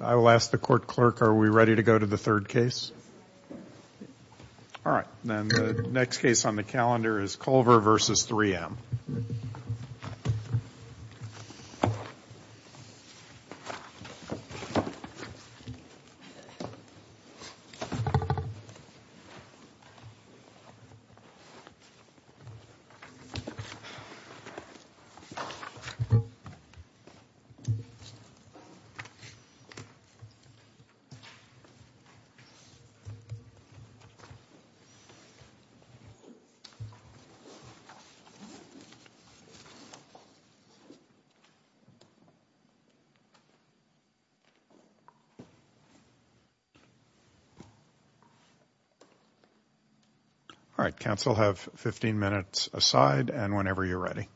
I will ask the court clerk, are we ready to go to the third case? All right, counsel have 15 minutes aside and whenever you're ready.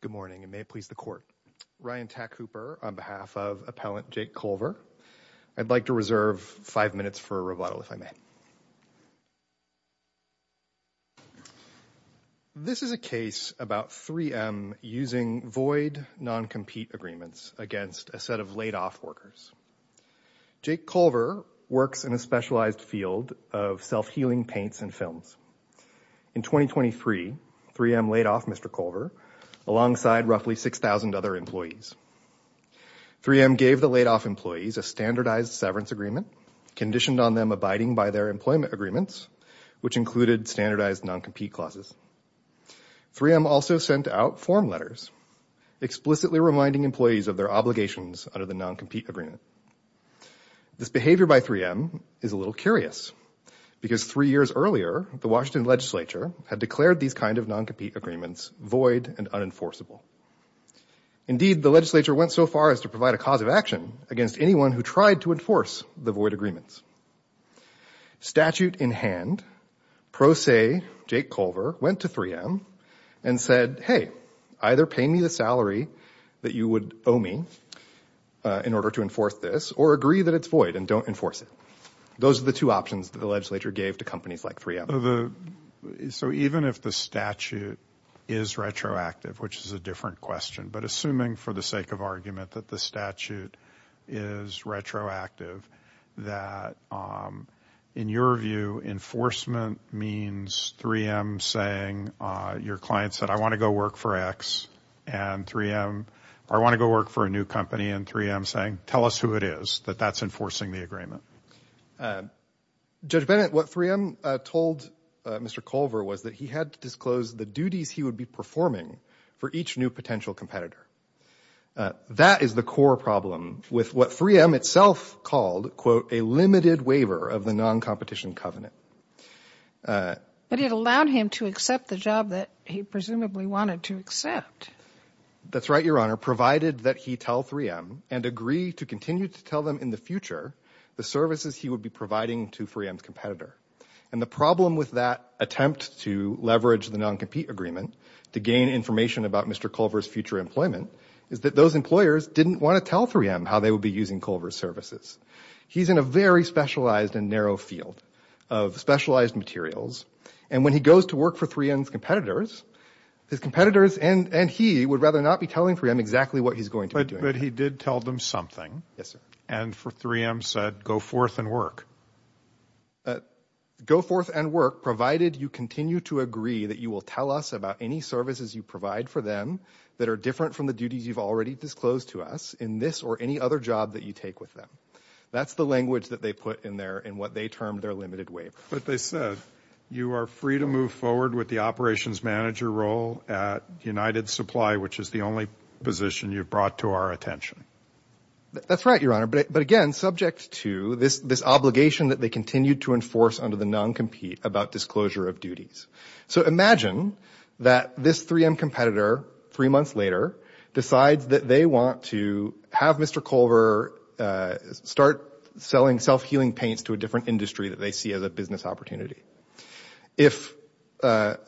Good morning and may it please the court. Ryan Tack Hooper on behalf of appellant Jake Culver. I'd like to reserve five minutes for a rebuttal if I may. This is a case about 3M using void non-compete agreements against a set of laid off workers. Jake Culver works in a specialized field of self healing paints and films. In 2023, 3M laid off Mr. Culver alongside roughly 6,000 other employees. 3M gave the laid off employees a standardized severance agreement conditioned on them abiding by their employment agreements, which included standardized non-compete clauses. 3M also sent out form letters explicitly reminding employees of their obligations under the non-compete agreement. This behavior by 3M is a little curious because three years earlier, the Washington legislature had declared these kind of non-compete agreements void and unenforceable. Indeed, the legislature went so far as to provide a cause of action against anyone who tried to enforce the void agreements. Statute in hand, pro se Jake Culver went to 3M and said, hey, either pay me the salary that you would owe me in order to enforce this or agree that it's void and don't enforce it. Those are the two options that the legislature gave to companies like 3M. So even if the statute is retroactive, which is a different question, but assuming for the sake of argument that the statute is retroactive, that in your view, enforcement means 3M saying your client said, I want to go work for X and 3M. I want to go work for a new company and 3M saying, tell us who it is that that's enforcing the agreement. Judge Bennett, what 3M told Mr. Culver was that he had to disclose the duties he would be performing for each new potential competitor. That is the core problem with what 3M itself called, quote, a limited waiver of the non-competition covenant. But it allowed him to accept the job that he presumably wanted to accept. That's right, Your Honor, provided that he tell 3M and agree to continue to tell them in the future the services he would be providing to 3M's competitor. And the problem with that attempt to leverage the non-compete agreement to gain information about Mr. Culver's future employment is that those employers didn't want to tell 3M how they would be using Culver's services. He's in a very specialized and narrow field of specialized materials. And when he goes to work for 3M's competitors, his competitors and he would rather not be telling 3M exactly what he's going to be doing. But he did tell them something. Yes, sir. And for 3M said, go forth and work. Go forth and work, provided you continue to agree that you will tell us about any services you provide for them that are different from the duties you've already disclosed to us in this or any other job that you take with them. That's the language that they put in there in what they termed their limited waiver. But they said, you are free to move forward with the operations manager role at United Supply, which is the only position you've brought to our attention. That's right, Your Honor. But again, subject to this obligation that they continue to enforce under the non-compete about disclosure of duties. So imagine that this 3M competitor, three months later, decides that they want to have Mr. Culver start selling self-healing paints to a different industry that they see as a business opportunity. If, under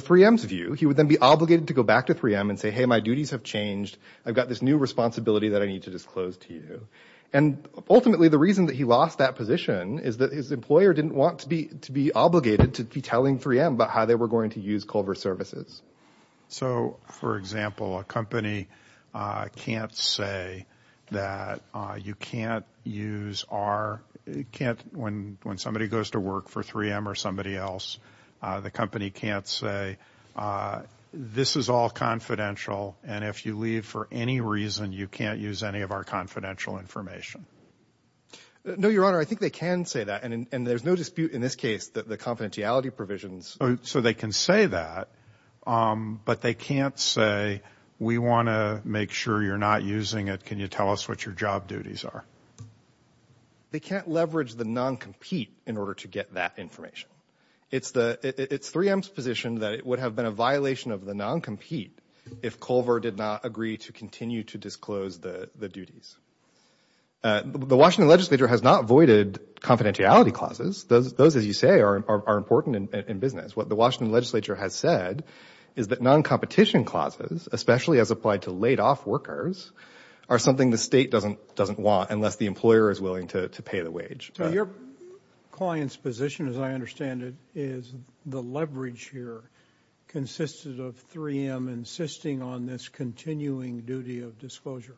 3M's view, he would then be obligated to go back to 3M and say, hey, my duties have changed. I've got this new responsibility that I need to disclose to you. And ultimately, the reason that he lost that position is that his employer didn't want to be obligated to be telling 3M about how they were going to use Culver Services. So, for example, a company can't say that you can't use our – can't – when somebody goes to work for 3M or somebody else, the company can't say, this is all confidential. And if you leave for any reason, you can't use any of our confidential information. No, Your Honor. I think they can say that. And there's no dispute in this case that the confidentiality provisions – So they can say that, but they can't say, we want to make sure you're not using it. Can you tell us what your job duties are? They can't leverage the non-compete in order to get that information. It's 3M's position that it would have been a violation of the non-compete if Culver did not agree to continue to disclose the duties. The Washington legislature has not voided confidentiality clauses. Those, as you say, are important in business. What the Washington legislature has said is that non-competition clauses, especially as applied to laid-off workers, are something the State doesn't want unless the employer is willing to pay the wage. So your client's position, as I understand it, is the leverage here consisted of 3M insisting on this continuing duty of disclosure.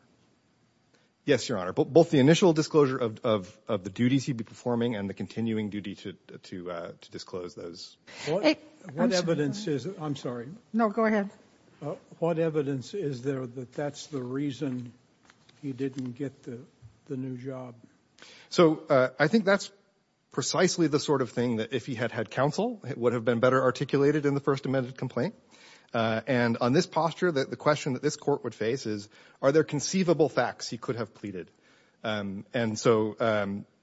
Yes, Your Honor. Both the initial disclosure of the duties he'd be performing and the continuing duty to disclose those. What evidence is – I'm sorry. No, go ahead. What evidence is there that that's the reason he didn't get the new job? So I think that's precisely the sort of thing that, if he had had counsel, it would have been better articulated in the First Amendment complaint. And on this posture, the question that this Court would face is, are there conceivable facts he could have pleaded? And so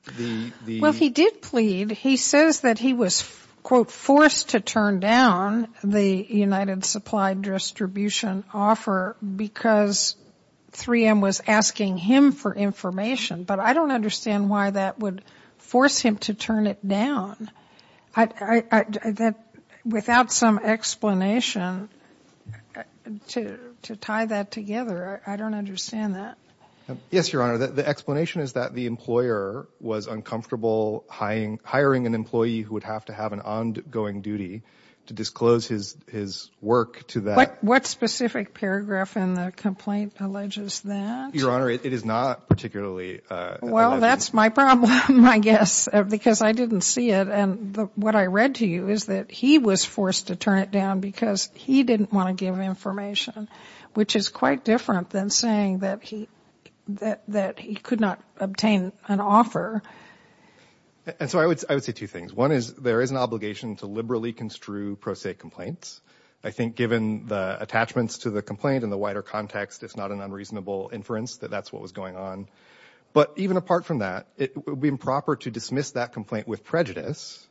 the – Well, he did plead. He says that he was, quote, forced to turn down the United Supply Distribution offer because 3M was asking him for information. But I don't understand why that would force him to turn it down. I – without some explanation to tie that together, I don't understand that. Yes, Your Honor. The explanation is that the employer was uncomfortable hiring an employee who would have to have an ongoing duty to disclose his work to that. What specific paragraph in the complaint alleges that? Your Honor, it is not particularly – Well, that's my problem, I guess, because I didn't see it. And what I read to you is that he was forced to turn it down because he didn't want to give information, which is quite different than saying that he could not obtain an offer. And so I would say two things. One is there is an obligation to liberally construe pro se complaints. I think given the attachments to the complaint in the wider context, it's not an unreasonable inference that that's what was going on. But even apart from that, it would be improper to dismiss that complaint with prejudice,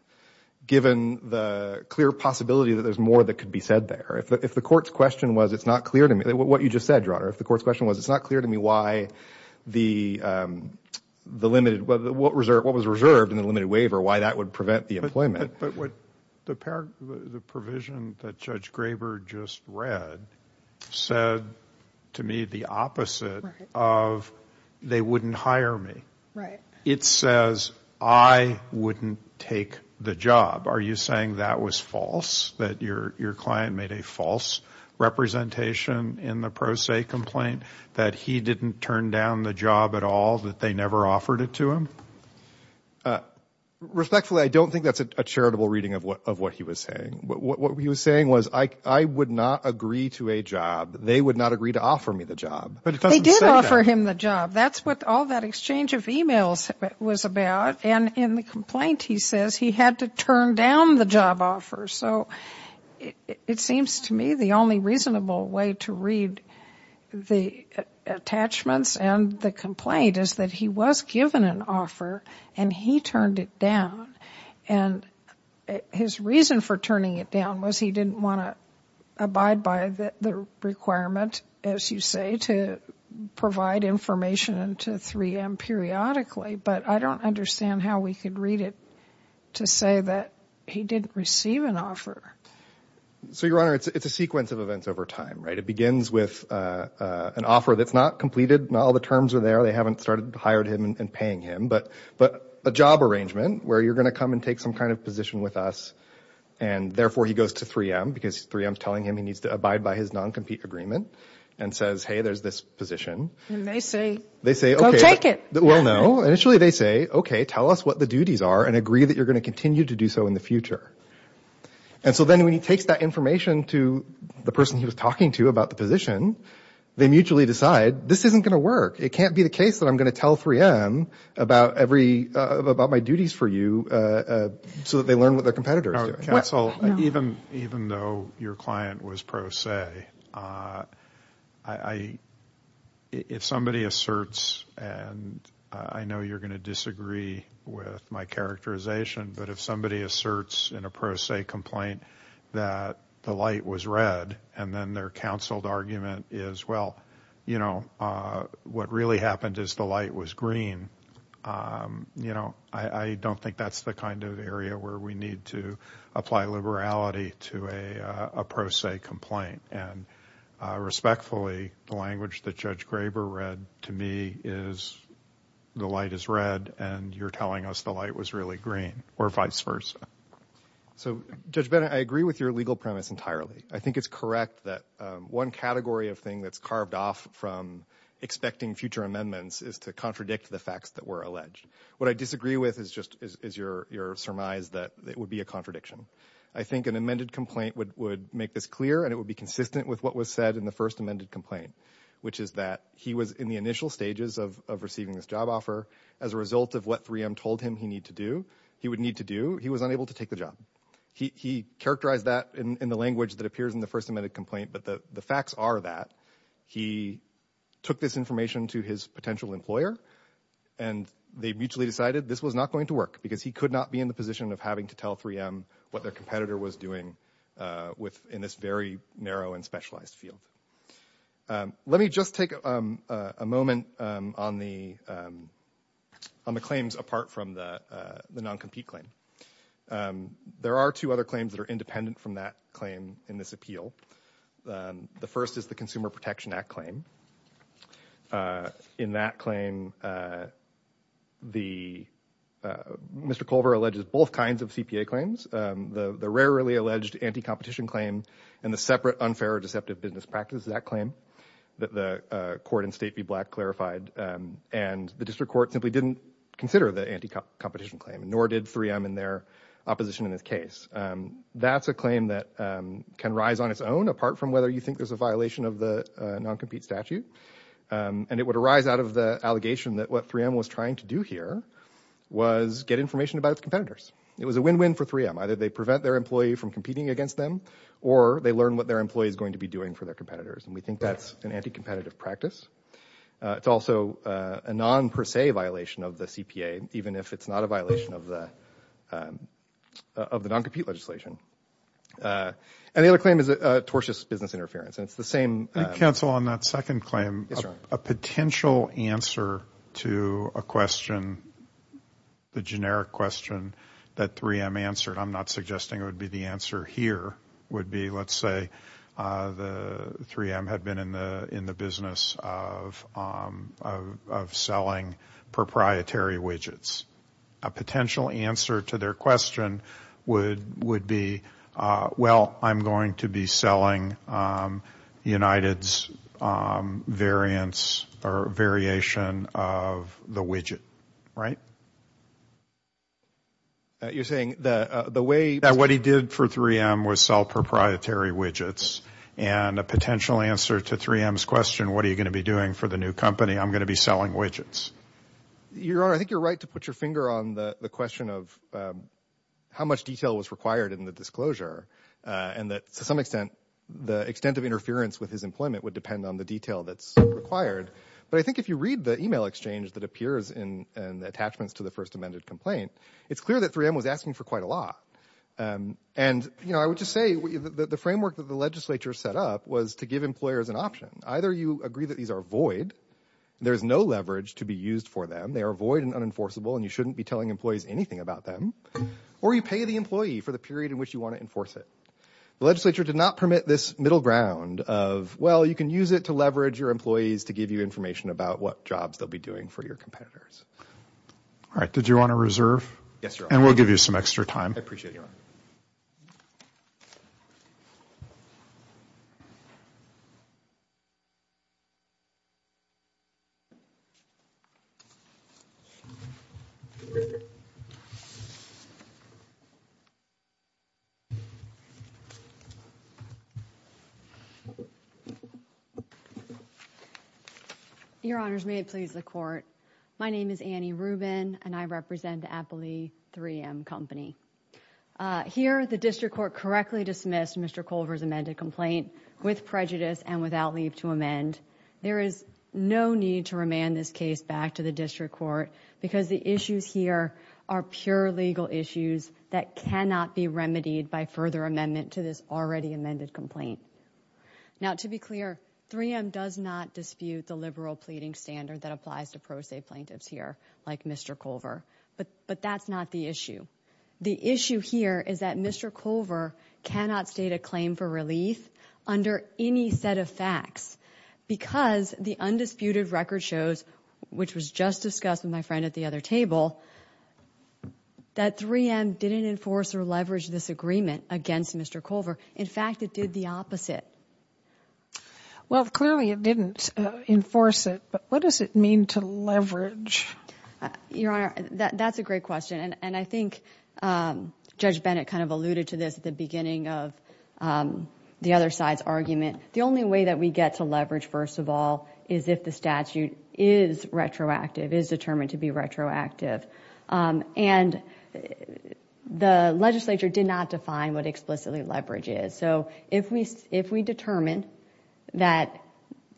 given the clear possibility that there's more that could be said there. If the court's question was it's not clear to me – what you just said, Your Honor. If the court's question was it's not clear to me why the limited – what was reserved in the limited waiver, why that would prevent the employment. But the provision that Judge Graber just read said to me the opposite of they wouldn't hire me. It says I wouldn't take the job. Are you saying that was false, that your client made a false representation in the pro se complaint, that he didn't turn down the job at all, that they never offered it to him? Respectfully, I don't think that's a charitable reading of what he was saying. What he was saying was I would not agree to a job. They would not agree to offer me the job. But it doesn't say that. They did offer him the job. That's what all that exchange of emails was about. And in the complaint, he says he had to turn down the job offer. So it seems to me the only reasonable way to read the attachments and the complaint is that he was given an offer and he turned it down. And his reason for turning it down was he didn't want to abide by the requirement, as you say, to provide information to 3M periodically. But I don't understand how we could read it to say that he didn't receive an offer. So, Your Honor, it's a sequence of events over time, right? It begins with an offer that's not completed. Not all the terms are there. They haven't started hiring him and paying him. But a job arrangement where you're going to come and take some kind of position with us, and therefore he goes to 3M because 3M is telling him he needs to abide by his non-compete agreement and says, hey, there's this position. And they say, go take it. Well, no. Initially they say, okay, tell us what the duties are and agree that you're going to continue to do so in the future. And so then when he takes that information to the person he was talking to about the position, they mutually decide this isn't going to work. It can't be the case that I'm going to tell 3M about my duties for you so that they learn what their competitor is doing. Counsel, even though your client was pro se, if somebody asserts, and I know you're going to disagree with my characterization, but if somebody asserts in a pro se complaint that the light was red and then their counseled argument is, well, you know, what really happened is the light was green, you know, I don't think that's the kind of area where we need to apply liberality to a pro se complaint. And respectfully, the language that Judge Graber read to me is the light is red and you're telling us the light was really green or vice versa. So, Judge Bennett, I agree with your legal premise entirely. I think it's correct that one category of thing that's carved off from expecting future amendments is to contradict the facts that were alleged. What I disagree with is just your surmise that it would be a contradiction. I think an amended complaint would make this clear and it would be consistent with what was said in the first amended complaint, which is that he was in the initial stages of receiving this job offer. As a result of what 3M told him he would need to do, he was unable to take the job. He characterized that in the language that appears in the first amended complaint. But the facts are that he took this information to his potential employer and they mutually decided this was not going to work because he could not be in the position of having to tell 3M what their competitor was doing in this very narrow and specialized field. Let me just take a moment on the claims apart from the non-compete claim. There are two other claims that are independent from that claim in this appeal. The first is the Consumer Protection Act claim. In that claim, Mr. Culver alleges both kinds of CPA claims. The rarely alleged anti-competition claim and the separate unfair or deceptive business practice of that claim that the court in State v. Black clarified. And the district court simply didn't consider the anti-competition claim, nor did 3M in their opposition in this case. That's a claim that can rise on its own apart from whether you think there's a violation of the non-compete statute. And it would arise out of the allegation that what 3M was trying to do here was get information about its competitors. It was a win-win for 3M. Either they prevent their employee from competing against them, or they learn what their employee is going to be doing for their competitors. And we think that's an anti-competitive practice. It's also a non-per se violation of the CPA, even if it's not a violation of the non-compete legislation. And the other claim is tortious business interference. Let me cancel on that second claim. A potential answer to a question, the generic question that 3M answered, I'm not suggesting it would be the answer here, would be let's say 3M had been in the business of selling proprietary widgets. A potential answer to their question would be, well, I'm going to be selling United's variation of the widget. You're saying that what he did for 3M was sell proprietary widgets. And a potential answer to 3M's question, what are you going to be doing for the new company, I'm going to be selling widgets. Your Honor, I think you're right to put your finger on the question of how much detail was required in the disclosure. And that to some extent the extent of interference with his employment would depend on the detail that's required. But I think if you read the email exchange that appears in the attachments to the first amended complaint, it's clear that 3M was asking for quite a lot. And I would just say the framework that the legislature set up was to give employers an option. Either you agree that these are void. There's no leverage to be used for them. They are void and unenforceable and you shouldn't be telling employees anything about them. Or you pay the employee for the period in which you want to enforce it. The legislature did not permit this middle ground of, well, you can use it to leverage your employees to give you information about what jobs they'll be doing for your competitors. All right. Did you want to reserve? Yes, Your Honor. And we'll give you some extra time. I appreciate it, Your Honor. Thank you. Your Honors, may it please the Court. My name is Annie Rubin and I represent Appley 3M Company. Here the district court correctly dismissed Mr. Culver's amended complaint with prejudice and without leave to amend. There is no need to remand this case back to the district court because the issues here are pure legal issues that cannot be remedied by further amendment to this already amended complaint. Now, to be clear, 3M does not dispute the liberal pleading standard that applies to pro se plaintiffs here like Mr. Culver. But that's not the issue. The issue here is that Mr. Culver cannot state a claim for relief under any set of facts because the undisputed record shows, which was just discussed with my friend at the other table, that 3M didn't enforce or leverage this agreement against Mr. Culver. In fact, it did the opposite. Well, clearly it didn't enforce it, but what does it mean to leverage? Your Honor, that's a great question. And I think Judge Bennett kind of alluded to this at the beginning of the other side's argument. The only way that we get to leverage, first of all, is if the statute is retroactive, is determined to be retroactive. And the legislature did not define what explicitly leverage is. So if we determine that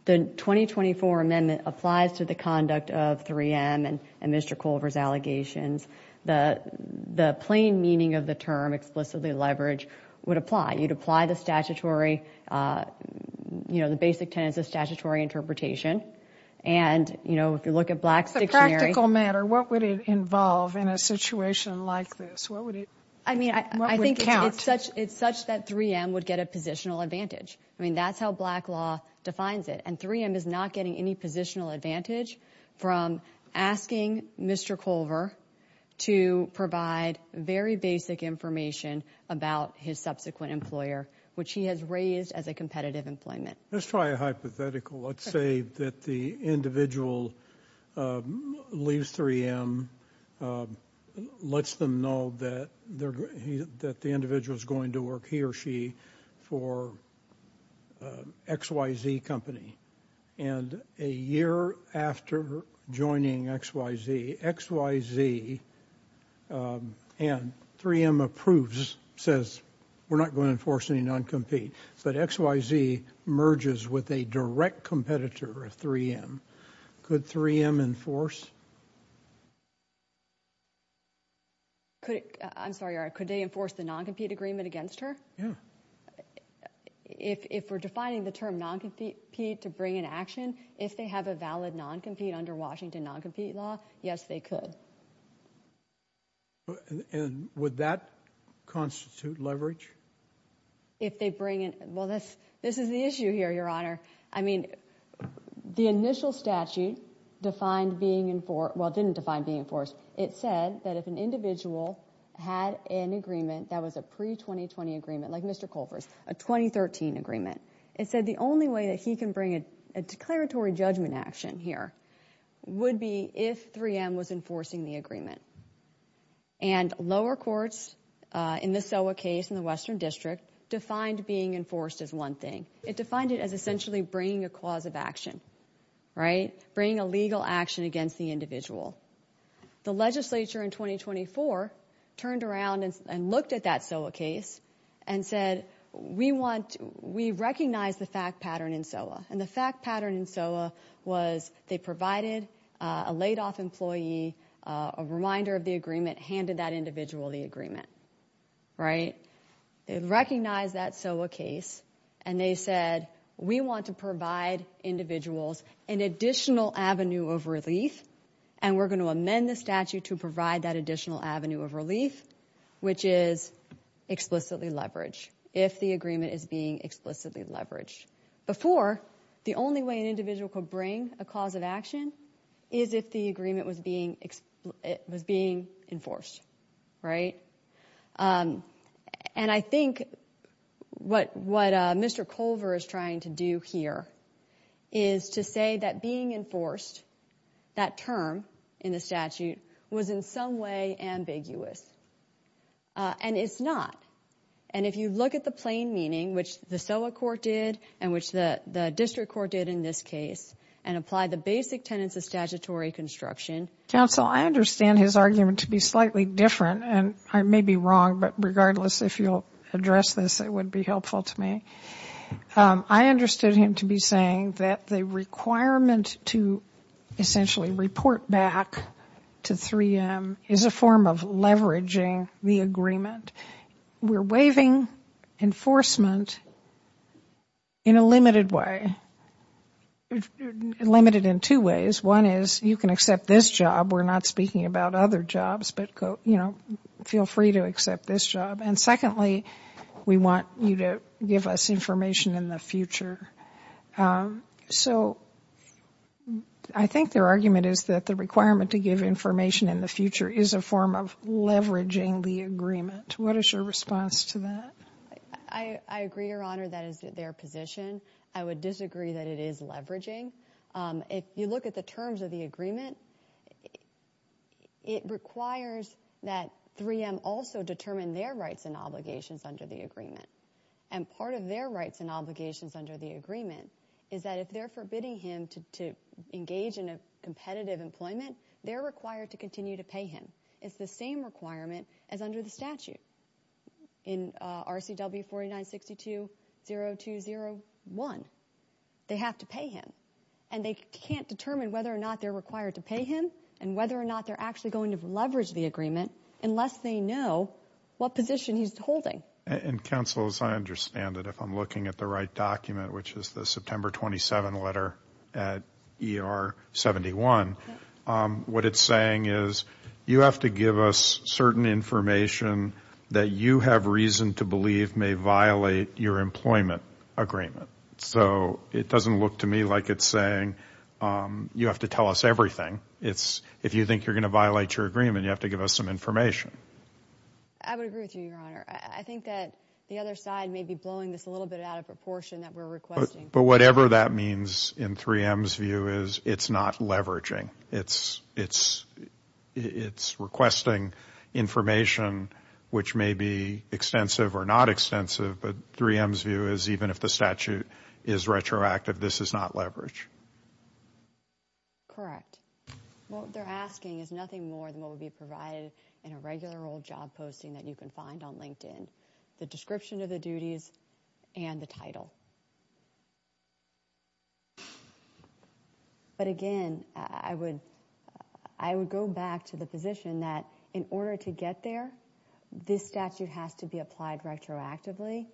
the 2024 amendment applies to the conduct of 3M and Mr. Culver's allegations, the plain meaning of the term explicitly leverage would apply. You'd apply the statutory, you know, the basic tenets of statutory interpretation. And, you know, if you look at Black's dictionary— As a practical matter, what would it involve in a situation like this? What would it count? I mean, I think it's such that 3M would get a positional advantage. I mean, that's how black law defines it. And 3M is not getting any positional advantage from asking Mr. Culver to provide very basic information about his subsequent employer, which he has raised as a competitive employment. Let's try a hypothetical. Let's say that the individual leaves 3M, lets them know that the individual is going to work he or she for XYZ Company. And a year after joining XYZ, XYZ and 3M approves, says, we're not going to enforce any non-compete. But XYZ merges with a direct competitor of 3M. Could 3M enforce? I'm sorry, could they enforce the non-compete agreement against her? Yeah. If we're defining the term non-compete to bring in action, if they have a valid non-compete under Washington non-compete law, yes, they could. And would that constitute leverage? If they bring in – well, this is the issue here, Your Honor. I mean, the initial statute defined being – well, it didn't define being enforced. It said that if an individual had an agreement that was a pre-2020 agreement, like Mr. Culver's, a 2013 agreement, it said the only way that he can bring a declaratory judgment action here would be if 3M was enforcing the agreement. And lower courts in the SOA case in the Western District defined being enforced as one thing. It defined it as essentially bringing a cause of action, right, bringing a legal action against the individual. The legislature in 2024 turned around and looked at that SOA case and said, we want – we recognize the fact pattern in SOA. And the fact pattern in SOA was they provided a laid-off employee a reminder of the agreement, handed that individual the agreement, right? They recognized that SOA case, and they said, we want to provide individuals an additional avenue of relief, and we're going to amend the statute to provide that additional avenue of relief, which is explicitly leverage, if the agreement is being explicitly leveraged. Before, the only way an individual could bring a cause of action is if the agreement was being enforced, right? And I think what Mr. Culver is trying to do here is to say that being enforced, that term in the statute, was in some way ambiguous. And it's not. And if you look at the plain meaning, which the SOA court did and which the district court did in this case, and apply the basic tenets of statutory construction. Counsel, I understand his argument to be slightly different, and I may be wrong, but regardless, if you'll address this, it would be helpful to me. I understood him to be saying that the requirement to essentially report back to 3M is a form of leveraging the agreement. We're waiving enforcement in a limited way, limited in two ways. One is, you can accept this job. We're not speaking about other jobs, but, you know, feel free to accept this job. And secondly, we want you to give us information in the future. So I think their argument is that the requirement to give information in the future is a form of leveraging the agreement. What is your response to that? I agree, Your Honor, that is their position. I would disagree that it is leveraging. If you look at the terms of the agreement, it requires that 3M also determine their rights and obligations under the agreement. And part of their rights and obligations under the agreement is that if they're forbidding him to engage in a competitive employment, they're required to continue to pay him. It's the same requirement as under the statute. In RCW 49620201, they have to pay him. And they can't determine whether or not they're required to pay him and whether or not they're actually going to leverage the agreement unless they know what position he's holding. And, Counsel, as I understand it, if I'm looking at the right document, which is the September 27 letter at ER 71, what it's saying is you have to give us certain information that you have reason to believe may violate your employment agreement. So it doesn't look to me like it's saying you have to tell us everything. If you think you're going to violate your agreement, you have to give us some information. I would agree with you, Your Honor. I think that the other side may be blowing this a little bit out of proportion that we're requesting. But whatever that means in 3M's view is it's not leveraging. It's requesting information which may be extensive or not extensive, but 3M's view is even if the statute is retroactive, this is not leverage. Correct. What they're asking is nothing more than what would be provided in a regular old job posting that you can find on LinkedIn, the description of the duties and the title. But, again, I would go back to the position that in order to get there, this statute has to be applied retroactively.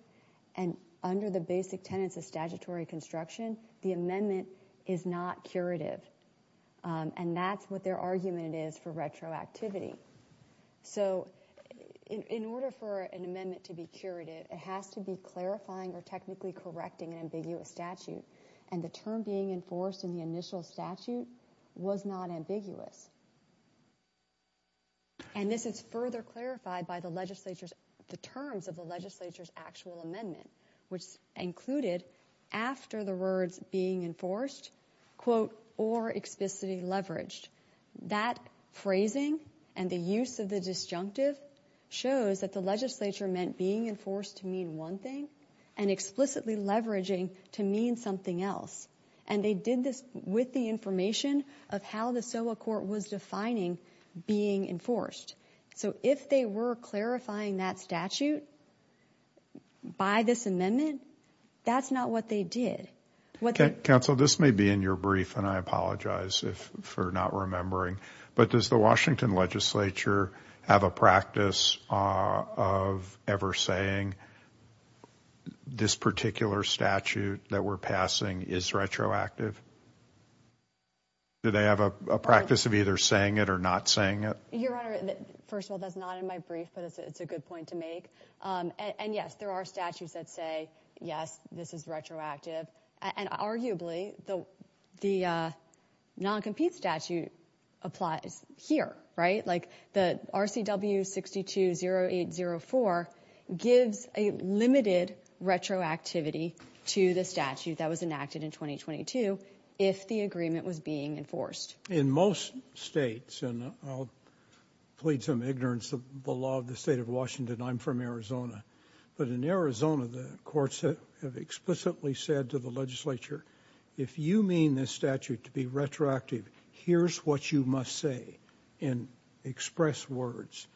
And under the basic tenets of statutory construction, the amendment is not curative. And that's what their argument is for retroactivity. So in order for an amendment to be curative, it has to be clarifying or technically correcting an ambiguous statute. And the term being enforced in the initial statute was not ambiguous. And this is further clarified by the terms of the legislature's actual amendment, which included after the words being enforced, quote, or explicitly leveraged. That phrasing and the use of the disjunctive shows that the legislature meant being enforced to mean one thing and explicitly leveraging to mean something else. And they did this with the information of how the SOA court was defining being enforced. So if they were clarifying that statute by this amendment, that's not what they did. Counsel, this may be in your brief, and I apologize for not remembering. But does the Washington legislature have a practice of ever saying this particular statute that we're passing is retroactive? Do they have a practice of either saying it or not saying it? Your Honor, first of all, that's not in my brief, but it's a good point to make. And, yes, there are statutes that say, yes, this is retroactive. And arguably the non-compete statute applies here, right? Like the RCW 620804 gives a limited retroactivity to the statute that was enacted in 2022 if the agreement was being enforced. In most states, and I'll plead some ignorance of the law of the state of Washington. And I'm from Arizona. But in Arizona, the courts have explicitly said to the legislature, if you mean this statute to be retroactive, here's what you must say and express words.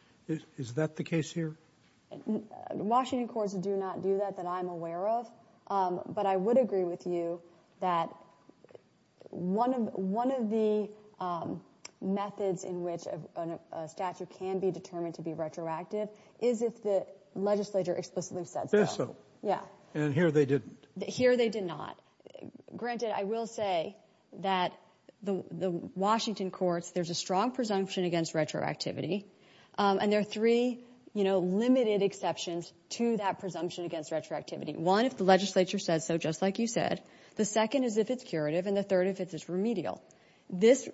Is that the case here? Washington courts do not do that that I'm aware of. But I would agree with you that one of the methods in which a statute can be determined to be retroactive is if the legislature explicitly says so. And here they didn't. Here they did not. Granted, I will say that the Washington courts, there's a strong presumption against retroactivity. And there are three, you know, limited exceptions to that presumption against retroactivity. One, if the legislature says so, just like you said. The second is if it's curative. And the third if it's remedial. This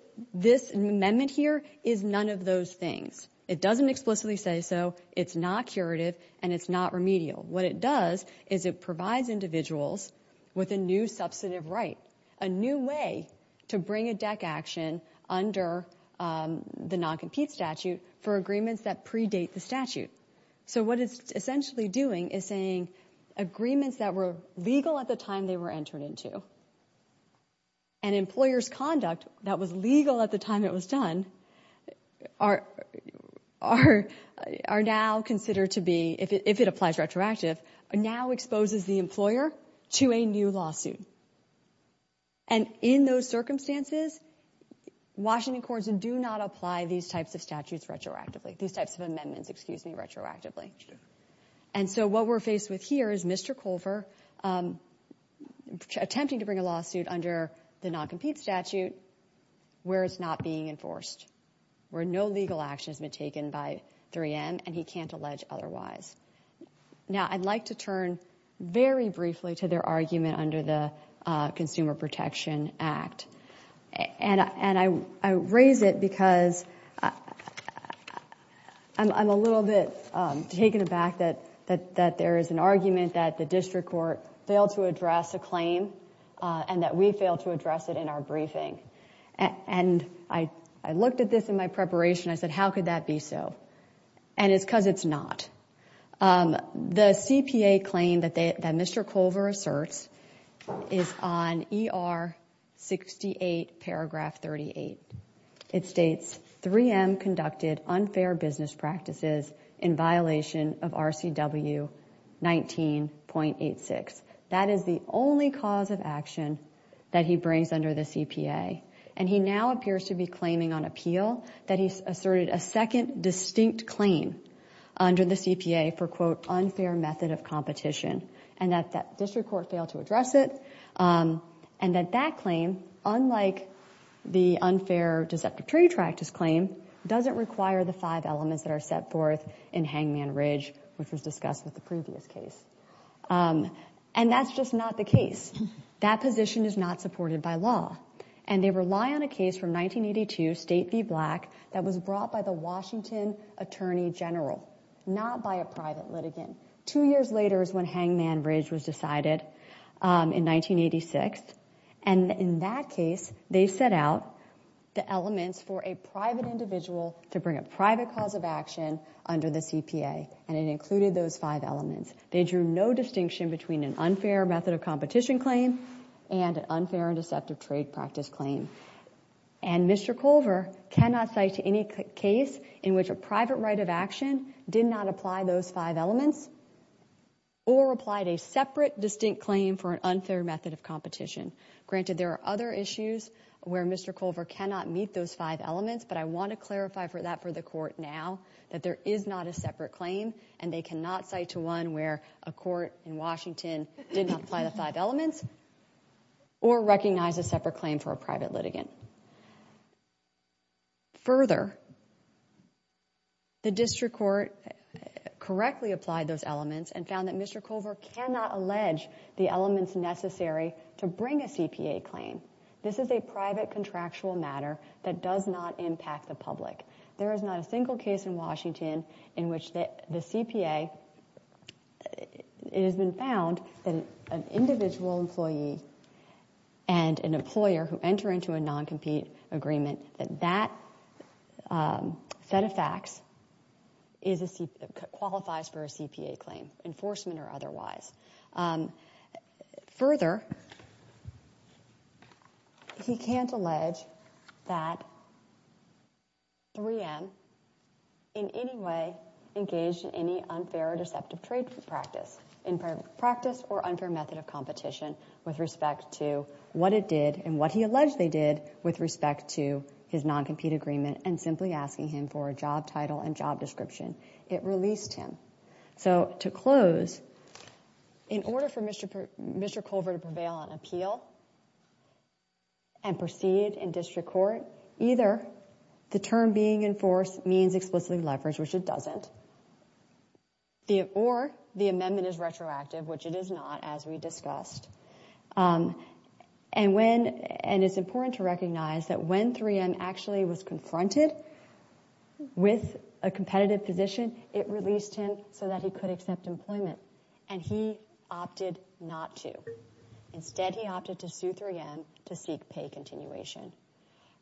amendment here is none of those things. It doesn't explicitly say so. It's not curative. And it's not remedial. What it does is it provides individuals with a new substantive right, a new way to bring a deck action under the non-compete statute for agreements that predate the statute. So what it's essentially doing is saying agreements that were legal at the time they were entered into and employer's conduct that was legal at the time it was done are now considered to be, if it applies retroactive, now exposes the employer to a new lawsuit. And in those circumstances, Washington courts do not apply these types of statutes retroactively, these types of amendments, excuse me, retroactively. And so what we're faced with here is Mr. Culver attempting to bring a lawsuit under the non-compete statute where it's not being enforced, where no legal action has been taken by 3M and he can't allege otherwise. Now, I'd like to turn very briefly to their argument under the Consumer Protection Act. And I raise it because I'm a little bit taken aback that there is an argument that the district court failed to address a claim and that we failed to address it in our briefing. And I looked at this in my preparation. I said, how could that be so? And it's because it's not. The CPA claim that Mr. Culver asserts is on ER 68 paragraph 38. It states, 3M conducted unfair business practices in violation of RCW 19.86. That is the only cause of action that he brings under the CPA. And he now appears to be claiming on appeal that he's asserted a second distinct claim under the CPA for, quote, unfair method of competition. And that that district court failed to address it. And that that claim, unlike the unfair deceptive trade practice claim, doesn't require the five elements that are set forth in Hangman Ridge, which was discussed with the previous case. And that's just not the case. That position is not supported by law. And they rely on a case from 1982, State v. Black, that was brought by the Washington attorney general, not by a private litigant. Two years later is when Hangman Ridge was decided in 1986. And in that case, they set out the elements for a private individual to bring a private cause of action under the CPA. And it included those five elements. They drew no distinction between an unfair method of competition claim and an unfair and deceptive trade practice claim. And Mr. Culver cannot cite any case in which a private right of action did not apply those five elements or applied a separate distinct claim for an unfair method of competition. Granted, there are other issues where Mr. Culver cannot meet those five elements. But I want to clarify that for the court now, that there is not a separate claim. And they cannot cite to one where a court in Washington did not apply the five elements or recognize a separate claim for a private litigant. Further, the district court correctly applied those elements and found that Mr. Culver cannot allege the elements necessary to bring a CPA claim. This is a private contractual matter that does not impact the public. There is not a single case in Washington in which the CPA has been found that an individual employee and an employer who enter into a non-compete agreement, that that set of facts qualifies for a CPA claim, enforcement or otherwise. Further, he can't allege that 3M in any way engaged in any unfair or deceptive trade practice, in practice or unfair method of competition with respect to what it did and what he alleged they did with respect to his non-compete agreement and simply asking him for a job title and job description. It released him. So, to close, in order for Mr. Culver to prevail on appeal and proceed in district court, either the term being enforced means explicitly leverage, which it doesn't, or the amendment is retroactive, which it is not, as we discussed. And it's important to recognize that when 3M actually was confronted with a competitive position, it released him so that he could accept employment. And he opted not to. Instead, he opted to sue 3M to seek pay continuation.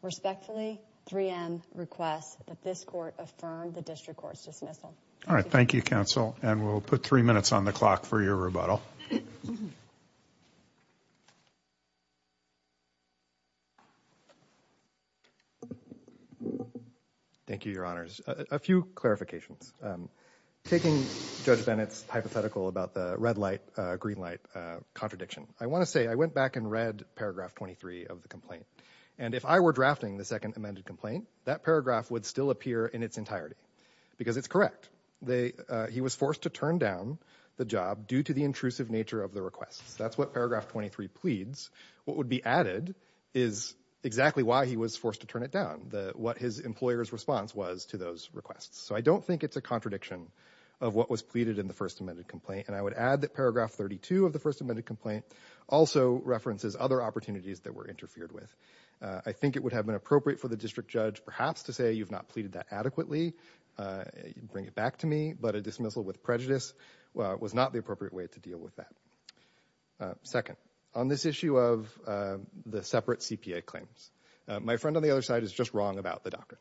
Respectfully, 3M requests that this court affirm the district court's dismissal. All right, thank you, counsel. And we'll put three minutes on the clock for your rebuttal. Thank you, Your Honors. A few clarifications. Taking Judge Bennett's hypothetical about the red light, green light contradiction, I want to say I went back and read paragraph 23 of the complaint. And if I were drafting the second amended complaint, that paragraph would still appear in its entirety because it's correct. He was forced to turn down the job due to the intrusive nature of the requests. That's what paragraph 23 pleads. What would be added is exactly why he was forced to turn it down, what his employer's response was to those requests. So I don't think it's a contradiction of what was pleaded in the first amended complaint. And I would add that paragraph 32 of the first amended complaint also references other opportunities that were interfered with. I think it would have been appropriate for the district judge perhaps to say you've not pleaded that adequately, bring it back to me, but a dismissal with prejudice was not the appropriate way to deal with that. Second, on this issue of the separate CPA claims, my friend on the other side is just wrong about the docket.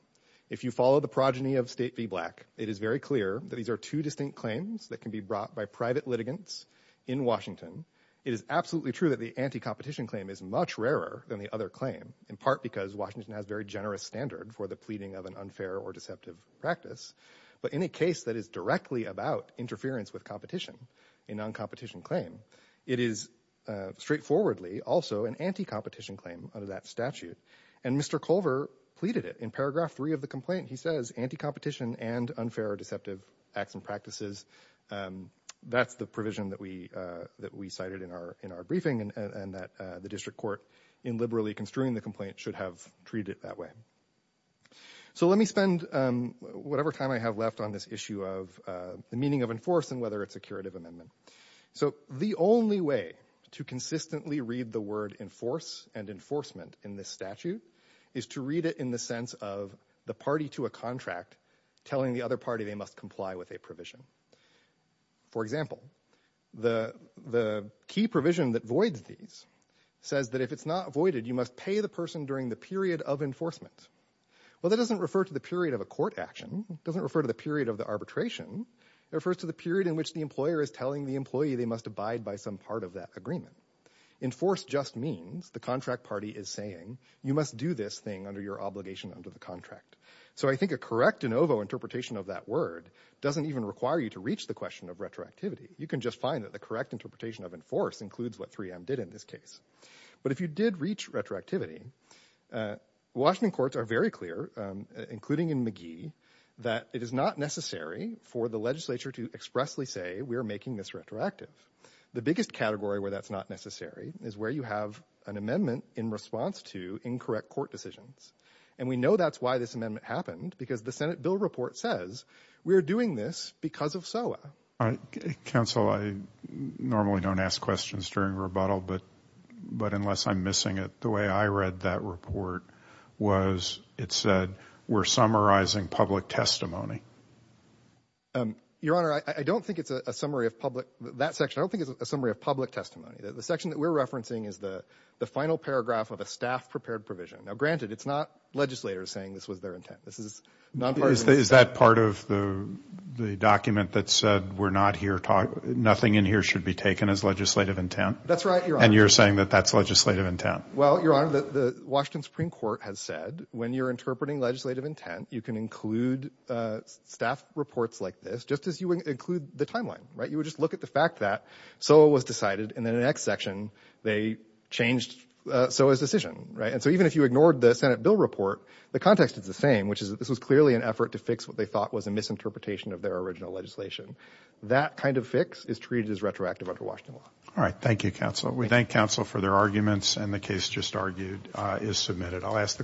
If you follow the progeny of State v. Black, it is very clear that these are two distinct claims that can be brought by private litigants in Washington. It is absolutely true that the anti-competition claim is much rarer than the other claim, in part because Washington has very generous standard for the pleading of an unfair or deceptive practice. But in a case that is directly about interference with competition, a non-competition claim, it is straightforwardly also an anti-competition claim under that statute. And Mr. Culver pleaded it. In paragraph 3 of the complaint, he says anti-competition and unfair or deceptive acts and practices, that's the provision that we cited in our briefing and that the district court, in liberally construing the complaint, should have treated it that way. So let me spend whatever time I have left on this issue of the meaning of enforce and whether it's a curative amendment. So the only way to consistently read the word enforce and enforcement in this statute is to read it in the sense of the party to a contract telling the other party they must comply with a provision. For example, the key provision that voids these says that if it's not voided, you must pay the person during the period of enforcement. Well, that doesn't refer to the period of a court action. It doesn't refer to the period of the arbitration. It refers to the period in which the employer is telling the employee they must abide by some part of that agreement. Enforce just means the contract party is saying you must do this thing under your obligation under the contract. So I think a correct de novo interpretation of that word doesn't even require you to reach the question of retroactivity. You can just find that the correct interpretation of enforce includes what 3M did in this case. But if you did reach retroactivity, Washington courts are very clear, including in McGee, that it is not necessary for the legislature to expressly say we are making this retroactive. The biggest category where that's not necessary is where you have an amendment in response to incorrect court decisions. And we know that's why this amendment happened, because the Senate bill report says we are doing this because of SOA. Counsel, I normally don't ask questions during rebuttal, but unless I'm missing it, the way I read that report was it said we're summarizing public testimony. Your Honor, I don't think it's a summary of public testimony. The section that we're referencing is the final paragraph of a staff-prepared provision. Now, granted, it's not legislators saying this was their intent. Is that part of the document that said nothing in here should be taken as legislative intent? That's right, Your Honor. And you're saying that that's legislative intent? Well, Your Honor, the Washington Supreme Court has said when you're interpreting legislative intent, you can include staff reports like this just as you would include the timeline, right? You would just look at the fact that SOA was decided, and then in the next section they changed SOA's decision, right? And so even if you ignored the Senate bill report, the context is the same, which is that this was clearly an effort to fix what they thought was a misinterpretation of their original legislation. That kind of fix is treated as retroactive under Washington law. All right. Thank you, counsel. We thank counsel for their arguments, and the case just argued is submitted. I'll ask the court to adjourn.